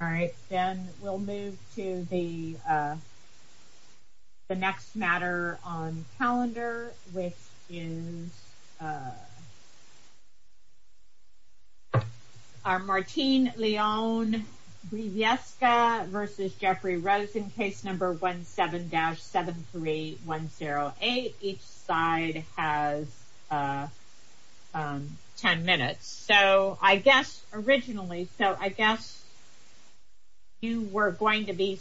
All right then we'll move to the next matter on calendar which is our Martine Leon-Briviesca versus Jeffrey Rosen case number 17-73108. Each side has 10 minutes so I guess originally so I guess you were going to be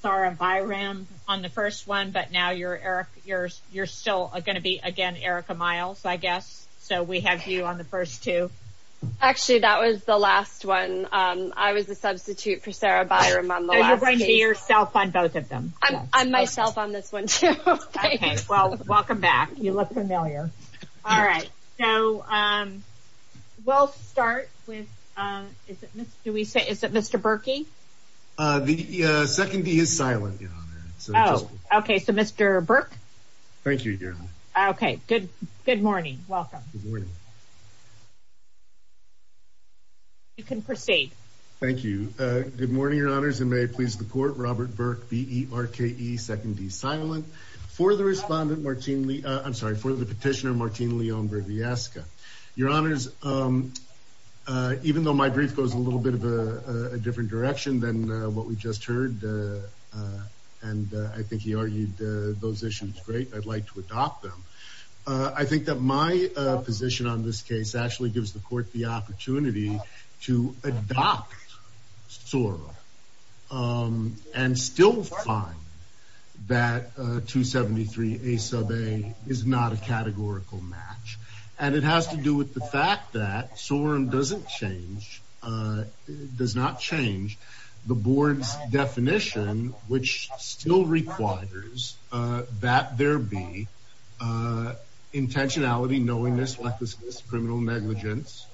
Sarah Byram on the first one but now you're Eric you're you're still going to be again Erica Miles I guess so we have you on the first two. Actually that was the last one I was a substitute for Sarah Byram. You're going to be yourself on both of them. I'm myself on this one too. Okay well welcome back you look familiar. All right so we'll start with do we say is it Mr. Berkey? The secondee is silent. Okay so Mr. Burke. Thank you. Okay good good morning welcome. You can proceed. Thank you. Good morning your honors and may it please the court Robert Burke b-e-r-k-e secondee silent for the respondent Martine I'm sorry for the petitioner Martine Leon-Briviesca. Your honors even though my brief goes a little bit of a different direction than what we just heard and I think he argued those issues great I'd like to adopt them. I think that my position on this case actually gives the court the opportunity to adopt SORM and still find that 273 a sub a is not a categorical match and it has to do with the fact that SORM doesn't change does not change the board's definition which still requires that there be intentionality knowingness like this criminal negligence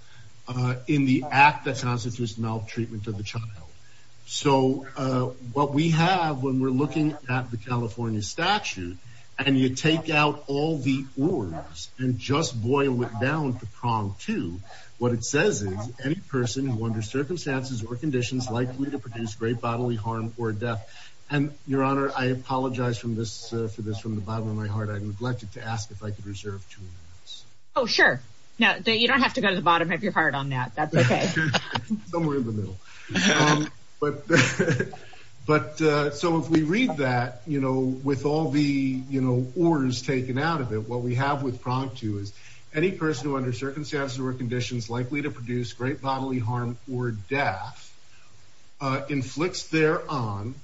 in the act that constitutes maltreatment of the child. So what we have when we're looking at the California statute and you take out all the words and just boil it down to prong to what it says is any person who under circumstances or conditions likely to produce great bodily harm or death and your honor I apologize from this for this from the bottom of my heart I neglected to ask if I could reserve two minutes. Oh sure now you don't have to go to the bottom of your heart on that that's somewhere in the middle but but so if we read that you know with all the you know orders taken out of it what we have with prompt to is any person who under circumstances or conditions likely to produce great bodily harm or death inflicts thereon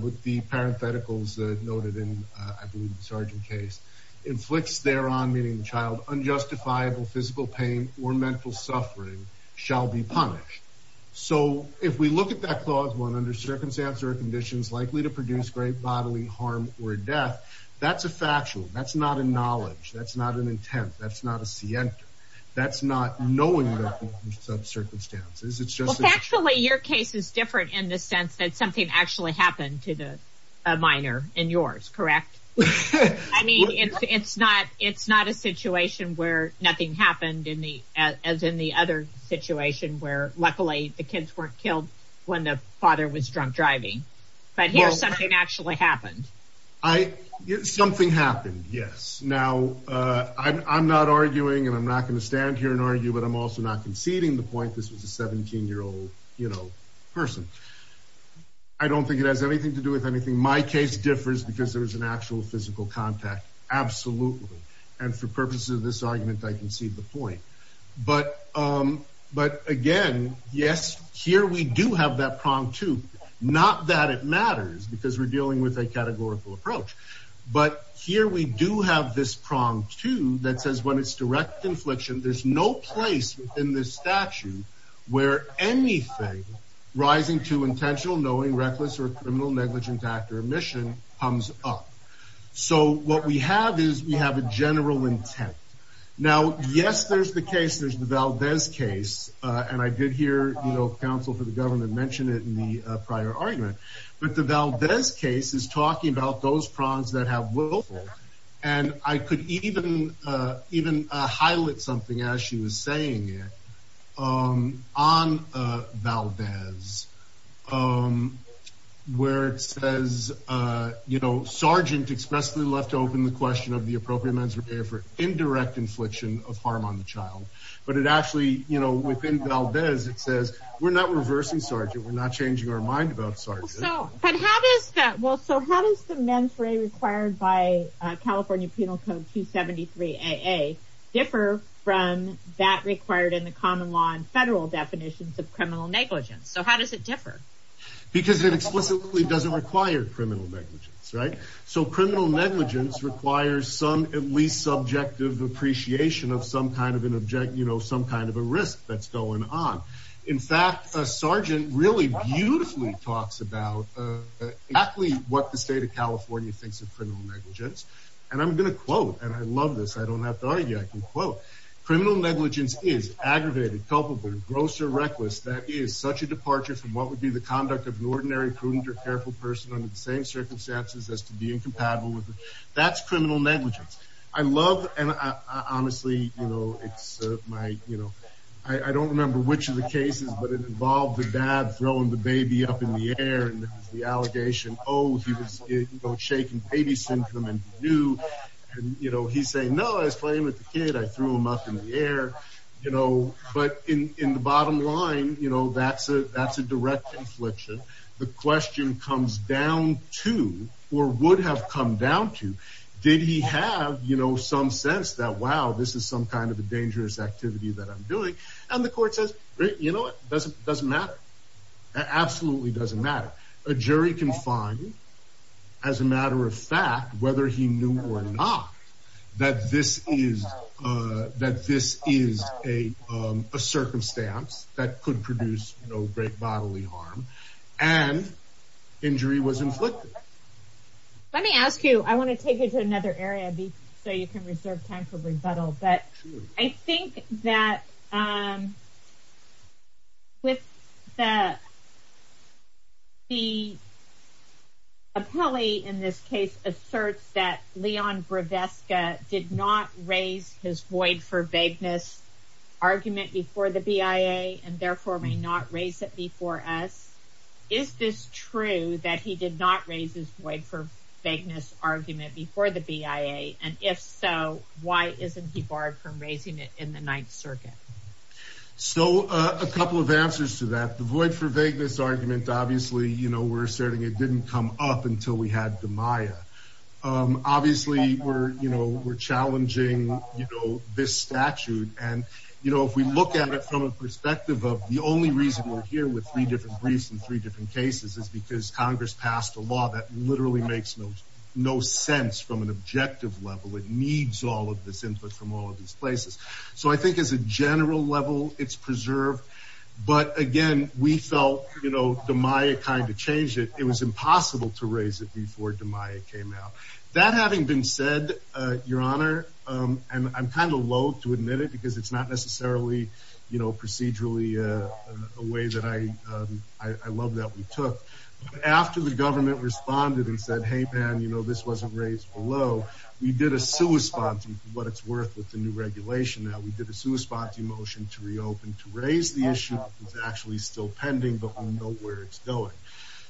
with the parentheticals that noted in I believe the sergeant case inflicts thereon meaning the child unjustifiable physical pain or mental suffering shall be punished. So if we look at that clause one under circumstances or conditions likely to produce great bodily harm or death that's a factual that's not a knowledge that's not an intent that's not a scienter that's not knowing the circumstances it's just actually your case is different in the sense that something actually happened to the minor in yours correct. I mean it's it's not it's not a situation where nothing happened in the as in the other situation where luckily the kids weren't killed when the father was drunk driving but here's something actually happened. I something happened yes now I'm not arguing and I'm not going to stand here and argue but I'm also not conceding the point this was a 17 year old you know person I don't think it has anything to do with anything my case differs because there is an actual physical contact absolutely and for purposes of this argument I concede the point but again yes here we do have that prong too not that it matters because we're dealing with a categorical approach but here we do have this prong too that says when it's direct infliction there's no place in this statute where anything rising to intentional knowing reckless or criminal negligent actor omission comes up so what we have is we have a general intent now yes there's the case there's the Valdez case and I did hear you know counsel for the government mentioned it in the prior argument but the Valdez case is talking about those prongs that have willful and I could even highlight something as she was saying it on Valdez where it says you know sergeant expressly left open the question of the appropriate men's repair for indirect infliction of harm on the child but it actually you know within Valdez it says we're not reversing sergeant we're not changing our mind about sergeant so but how does that well so how does the mens rea required by california penal code 273 aa differ from that required in the common law and federal definitions of criminal negligence so how does it differ because it explicitly doesn't require criminal negligence right so criminal negligence requires some at least subjective appreciation of some kind of an object you know some kind of a risk that's going on in fact a sergeant really beautifully talks about uh exactly what the state of california thinks of criminal negligence and i'm going to quote and i love this i don't have to argue i can quote criminal negligence is aggravated culpable gross or reckless that is such a departure from what would be the conduct of an ordinary prudent or careful person under the same circumstances as to be incompatible with that's criminal negligence i love and i honestly you know it's my you know i i don't remember which of the cases but it involved the dad throwing the baby up in the air and the allegation oh he was shaking baby symptom and you know he's saying no i was playing with the kid i threw him up in the air you know but in in the bottom line you know that's a that's a direct infliction the question comes down to or would have come down to did he have you know some sense that wow this is some kind of a dangerous activity that i'm doing and the court says you know what doesn't doesn't matter that absolutely doesn't matter a jury can find as a matter of fact whether he knew or not that this is uh that this is a um a circumstance that could produce no great bodily harm and injury was inflicted let me ask you i want to take you to another area b so you can time for rebuttal but i think that um with the the appellee in this case asserts that leon groveska did not raise his void for vagueness argument before the bia and therefore may not raise it before us is this true that he did not raise his void for vagueness argument before the why isn't he barred from raising it in the ninth circuit so a couple of answers to that the void for vagueness argument obviously you know we're asserting it didn't come up until we had the maya obviously we're you know we're challenging you know this statute and you know if we look at it from a perspective of the only reason we're here with three different briefs in three different cases is because congress passed a law that literally makes no no sense from an objective level it needs all of this input from all of these places so i think as a general level it's preserved but again we felt you know the maya kind of changed it it was impossible to raise it before the maya came out that having been said uh your honor um and i'm kind of loathe to admit it because it's not necessarily you know procedurally uh a way that i um i love that we took after the did a suespanti what it's worth with the new regulation now we did a suespanti motion to reopen to raise the issue it's actually still pending but we know where it's going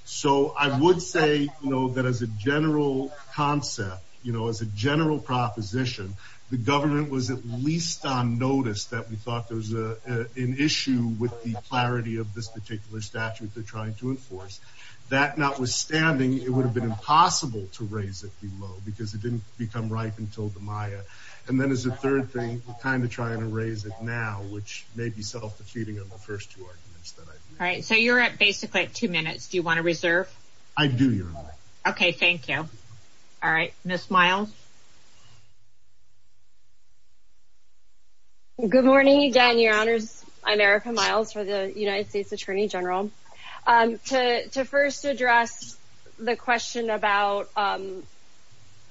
so i would say you know that as a general concept you know as a general proposition the government was at least on notice that we thought there was a an issue with the clarity of this particular statute they're trying to enforce that notwithstanding it would have been impossible to raise it below because it didn't become ripe until the maya and then as a third thing we're kind of trying to raise it now which may be self-defeating of the first two arguments that i all right so you're at basically at two minutes do you want to reserve i do your honor okay thank you all right miss miles good morning again your honors i'm erica miles for the united states attorney general um to to first address the question about um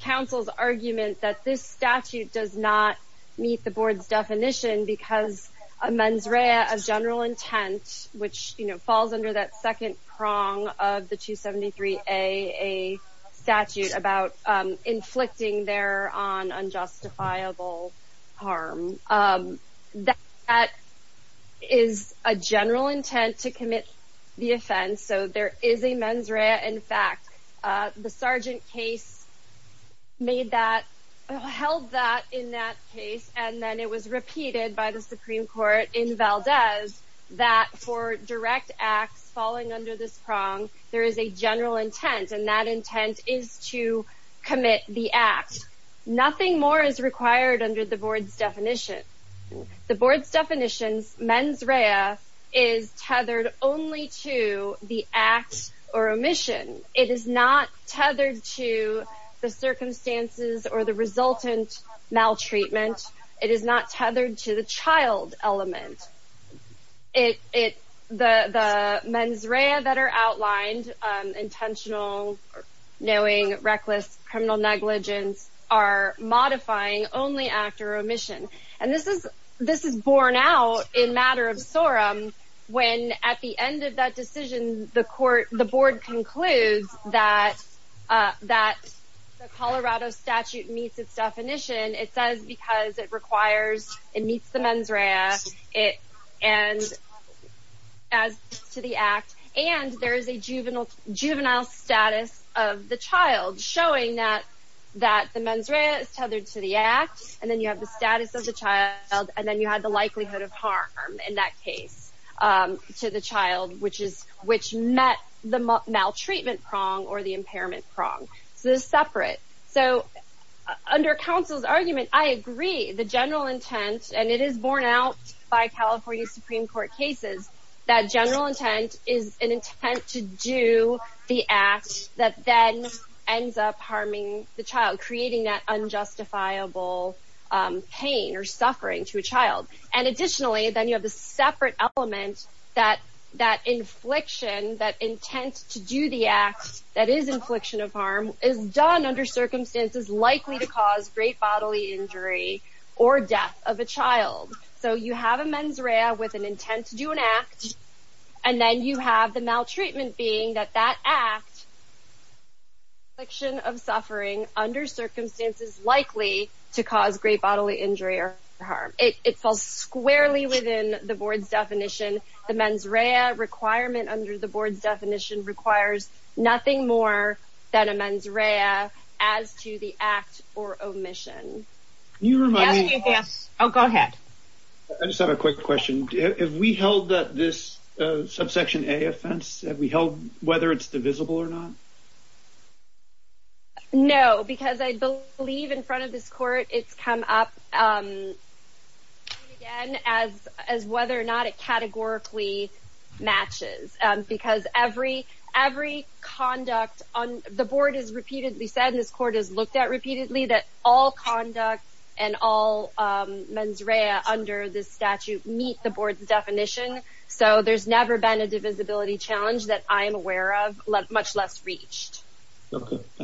council's argument that this statute does not meet the board's definition because a mens rea of general intent which you know falls under that second prong of the 273a a statute about um inflicting there on unjustifiable harm um that that is a general intent to commit the offense so there is a mens rea in fact uh the sergeant case made that held that in that case and then it was repeated by the supreme court in valdez that for direct acts falling under this prong there is a general intent and that intent is to commit the the board's definitions mens rea is tethered only to the act or omission it is not tethered to the circumstances or the resultant maltreatment it is not tethered to the child element it it the the mens rea that are outlined um intentional knowing reckless criminal negligence are modifying only after omission and this is this is borne out in matter of sorum when at the end of that decision the court the board concludes that uh that the colorado statute meets its definition it says because it requires it meets the mens rea it and as to the act and there is a juvenile juvenile status of the child showing that that the mens rea is tethered to the act and then you have the status of the child and then you had the likelihood of harm in that case um to the child which is which met the maltreatment prong or the impairment prong so this is separate so under counsel's argument i agree the general intent and it is borne out by california supreme that general intent is an intent to do the act that then ends up harming the child creating that unjustifiable um pain or suffering to a child and additionally then you have a separate element that that infliction that intent to do the act that is infliction of harm is done under circumstances likely to cause great bodily injury or death of a child so you have a mens rea with an intent to do an act and then you have the maltreatment being that that act friction of suffering under circumstances likely to cause great bodily injury or harm it falls squarely within the board's definition the mens rea requirement under the board's definition requires nothing more than a mens rea as to the act or omission you remind me yes oh go ahead i just have a quick question have we held that this subsection a offense have we held whether it's divisible or not no because i believe in front of this court it's come up um again as as whether or not it categorically matches um because every every conduct on the board is repeatedly said this repeatedly that all conduct and all um mens rea under this statute meet the board's definition so there's never been a divisibility challenge that i'm aware of much less reached let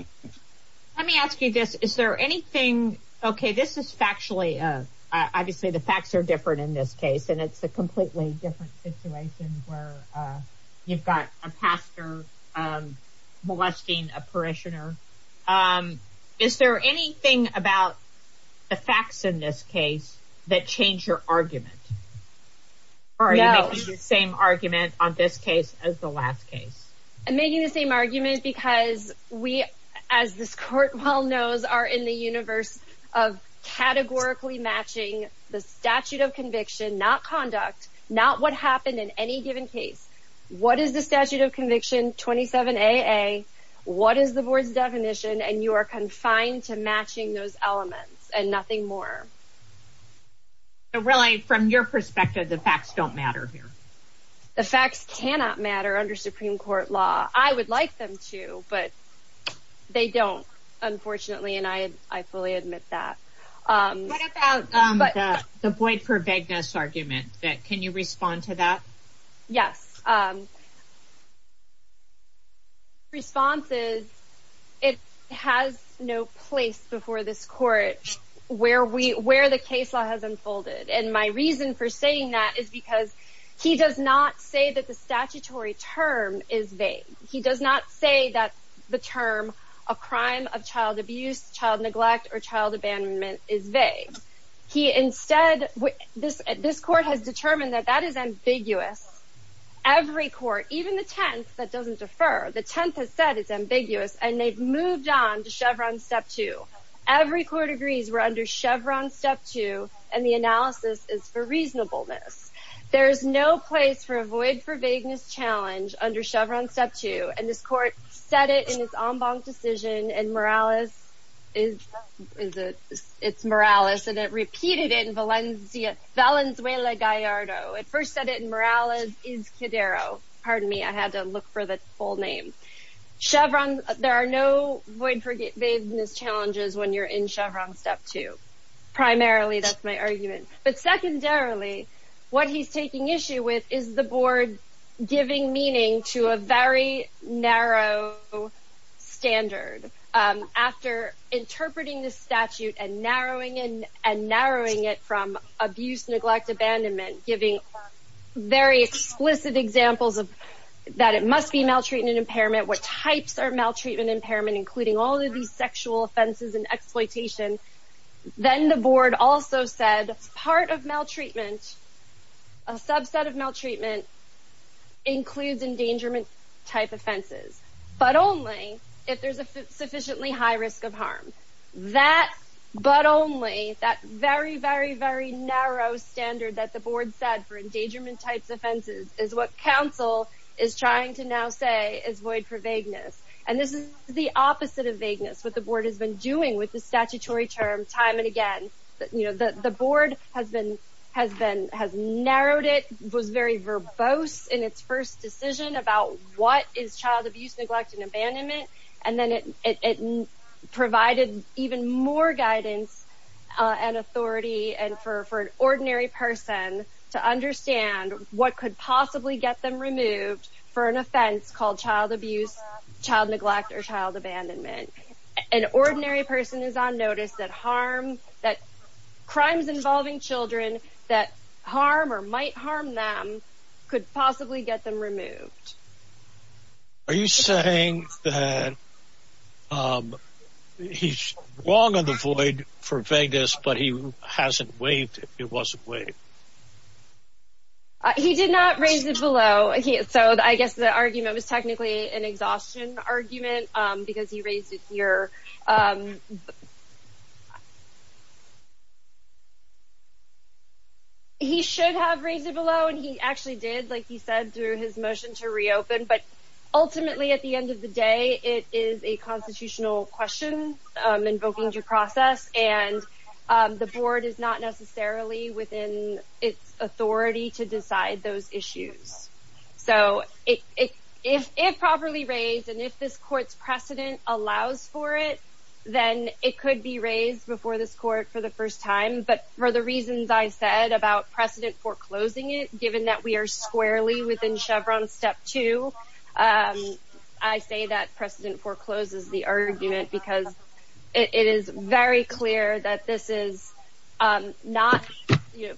me ask you this is there anything okay this is factually uh obviously the facts are different in this case and it's a completely different situation where uh you've got a pastor um a parishioner um is there anything about the facts in this case that change your argument or are you making the same argument on this case as the last case i'm making the same argument because we as this court well knows are in the universe of categorically matching the statute of conviction not conduct not what happened in any given case what is the statute of conviction 27 aa what is the board's definition and you are confined to matching those elements and nothing more so really from your perspective the facts don't matter here the facts cannot matter under supreme court law i would like them to but they don't unfortunately and i i fully admit that um what about um but the void for vagueness argument that can you respond to that yes um responses it has no place before this court where we where the case law has unfolded and my reason for saying that is because he does not say that the statutory term is vague he does not say that the term a crime of child abuse child neglect or child abandonment is vague he instead this this court has determined that that is ambiguous every court even the tenth that doesn't defer the tenth has said it's ambiguous and they've moved on to chevron step two every court agrees we're under chevron step two and the analysis is for reasonableness there is no place for avoid for vagueness challenge under chevron step two and this court said it in its en banc decision and morales is is it it's morales and it repeated in valencia valenzuela gallardo it first said it in morales is cadero pardon me i had to look for the full name chevron there are no void for vagueness challenges when you're in chevron step two primarily that's my argument but secondarily what he's taking issue with is the board giving meaning to a very narrow standard um after interpreting this statute and narrowing in and narrowing it from abuse neglect abandonment giving very explicit examples of that it must be maltreatment impairment what types are maltreatment impairment including all of these sexual offenses and exploitation then the board also said part of maltreatment a subset of maltreatment includes endangerment type offenses but only if there's a sufficiently high risk of harm that but only that very very very narrow standard that the board said for endangerment types offenses is what council is trying to now say is void for vagueness and this is the opposite of vagueness what the board has been doing with the statutory term time and again you know the the board has been has been has narrowed it was very verbose in its first decision about what is child abuse neglect and abandonment and then it it provided even more guidance uh and authority and for for an ordinary person to understand what could possibly get them removed for an offense called child abuse child neglect or child abandonment an ordinary person is on notice that harm that crimes involving children that harm or might harm them could possibly get them removed are you saying that um he's wrong on the void for vagueness but he hasn't waived it wasn't waived uh he did not raise it below he so i guess the argument was technically an exhaustion argument um because he raised it here um he should have raised it below and he actually did like he said through his motion to reopen but ultimately at the end of the day it is a constitutional question um invoking your its authority to decide those issues so it if it properly raised and if this court's precedent allows for it then it could be raised before this court for the first time but for the reasons i said about precedent foreclosing it given that we are squarely within chevron step two i say that precedent forecloses the argument because it is very clear that this is not you know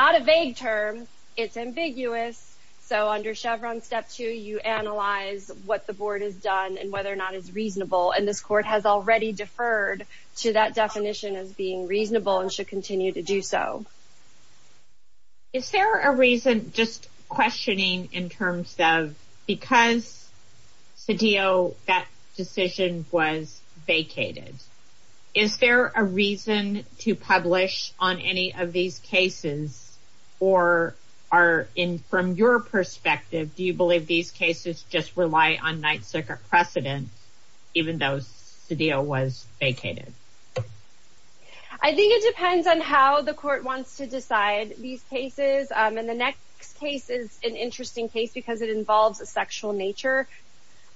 not a vague term it's ambiguous so under chevron step two you analyze what the board has done and whether or not it's reasonable and this court has already deferred to that definition as being reasonable and should continue to do so is there a reason just questioning in terms of because cedillo that decision was vacated is there a reason to publish on any of these cases or are in from your perspective do you believe these cases just rely on night circuit precedent even though cedillo was vacated i think it depends on how the court wants to decide these cases um the next case is an interesting case because it involves a sexual nature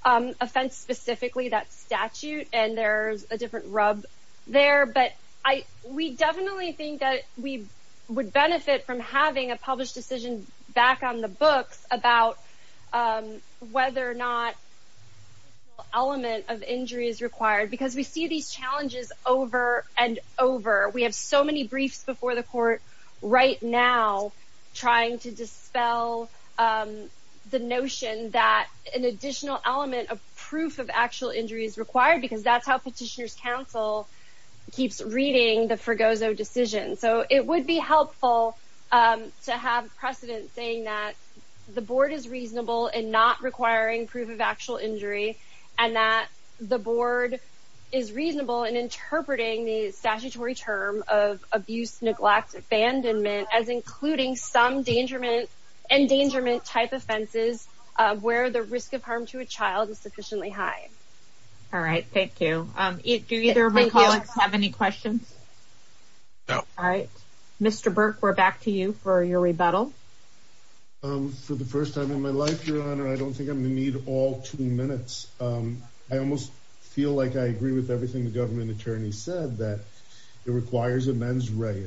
um offense specifically that statute and there's a different rub there but i we definitely think that we would benefit from having a published decision back on the books about um whether or not element of injury is required because we see these challenges over and over we have so many briefs before the court right now trying to dispel the notion that an additional element of proof of actual injury is required because that's how petitioners council keeps reading the forgoes oh decision so it would be helpful um to have precedent saying that the board is reasonable and not requiring proof of actual injury and that the board is reasonable in interpreting the statutory term of abuse neglect abandonment as including some endangerment endangerment type offenses uh where the risk of harm to a child is sufficiently high all right thank you um do either of my colleagues have any questions no all right mr burke we're back to you for your rebuttal um for the first time in my life your honor i don't think i'm gonna need all two minutes um i almost feel like i agree with everything the government attorney said that it requires a mens rea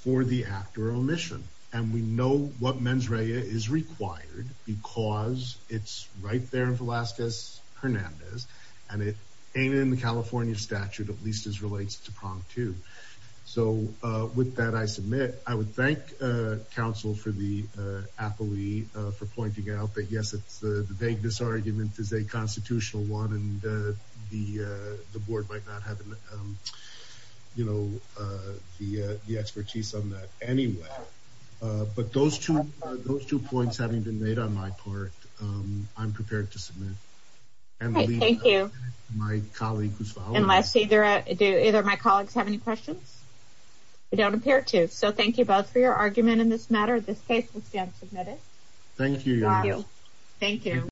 for the act or omission and we know what mens rea is required because it's right there in falazquez hernandez and it ain't in the california statute at least as relates to prong two so uh with that i submit i would thank uh council for the uh affiliate uh for pointing out that yes it's the vagueness argument is a constitutional one and uh the uh the board might not have an um you know uh the uh the expertise on that anyway uh but those two those two points having been made on my part um i'm prepared to submit thank you my colleague who's following unless either do either my colleagues have any questions i don't appear to so thank you both for your argument in this matter this case will stand submitted thank you thank you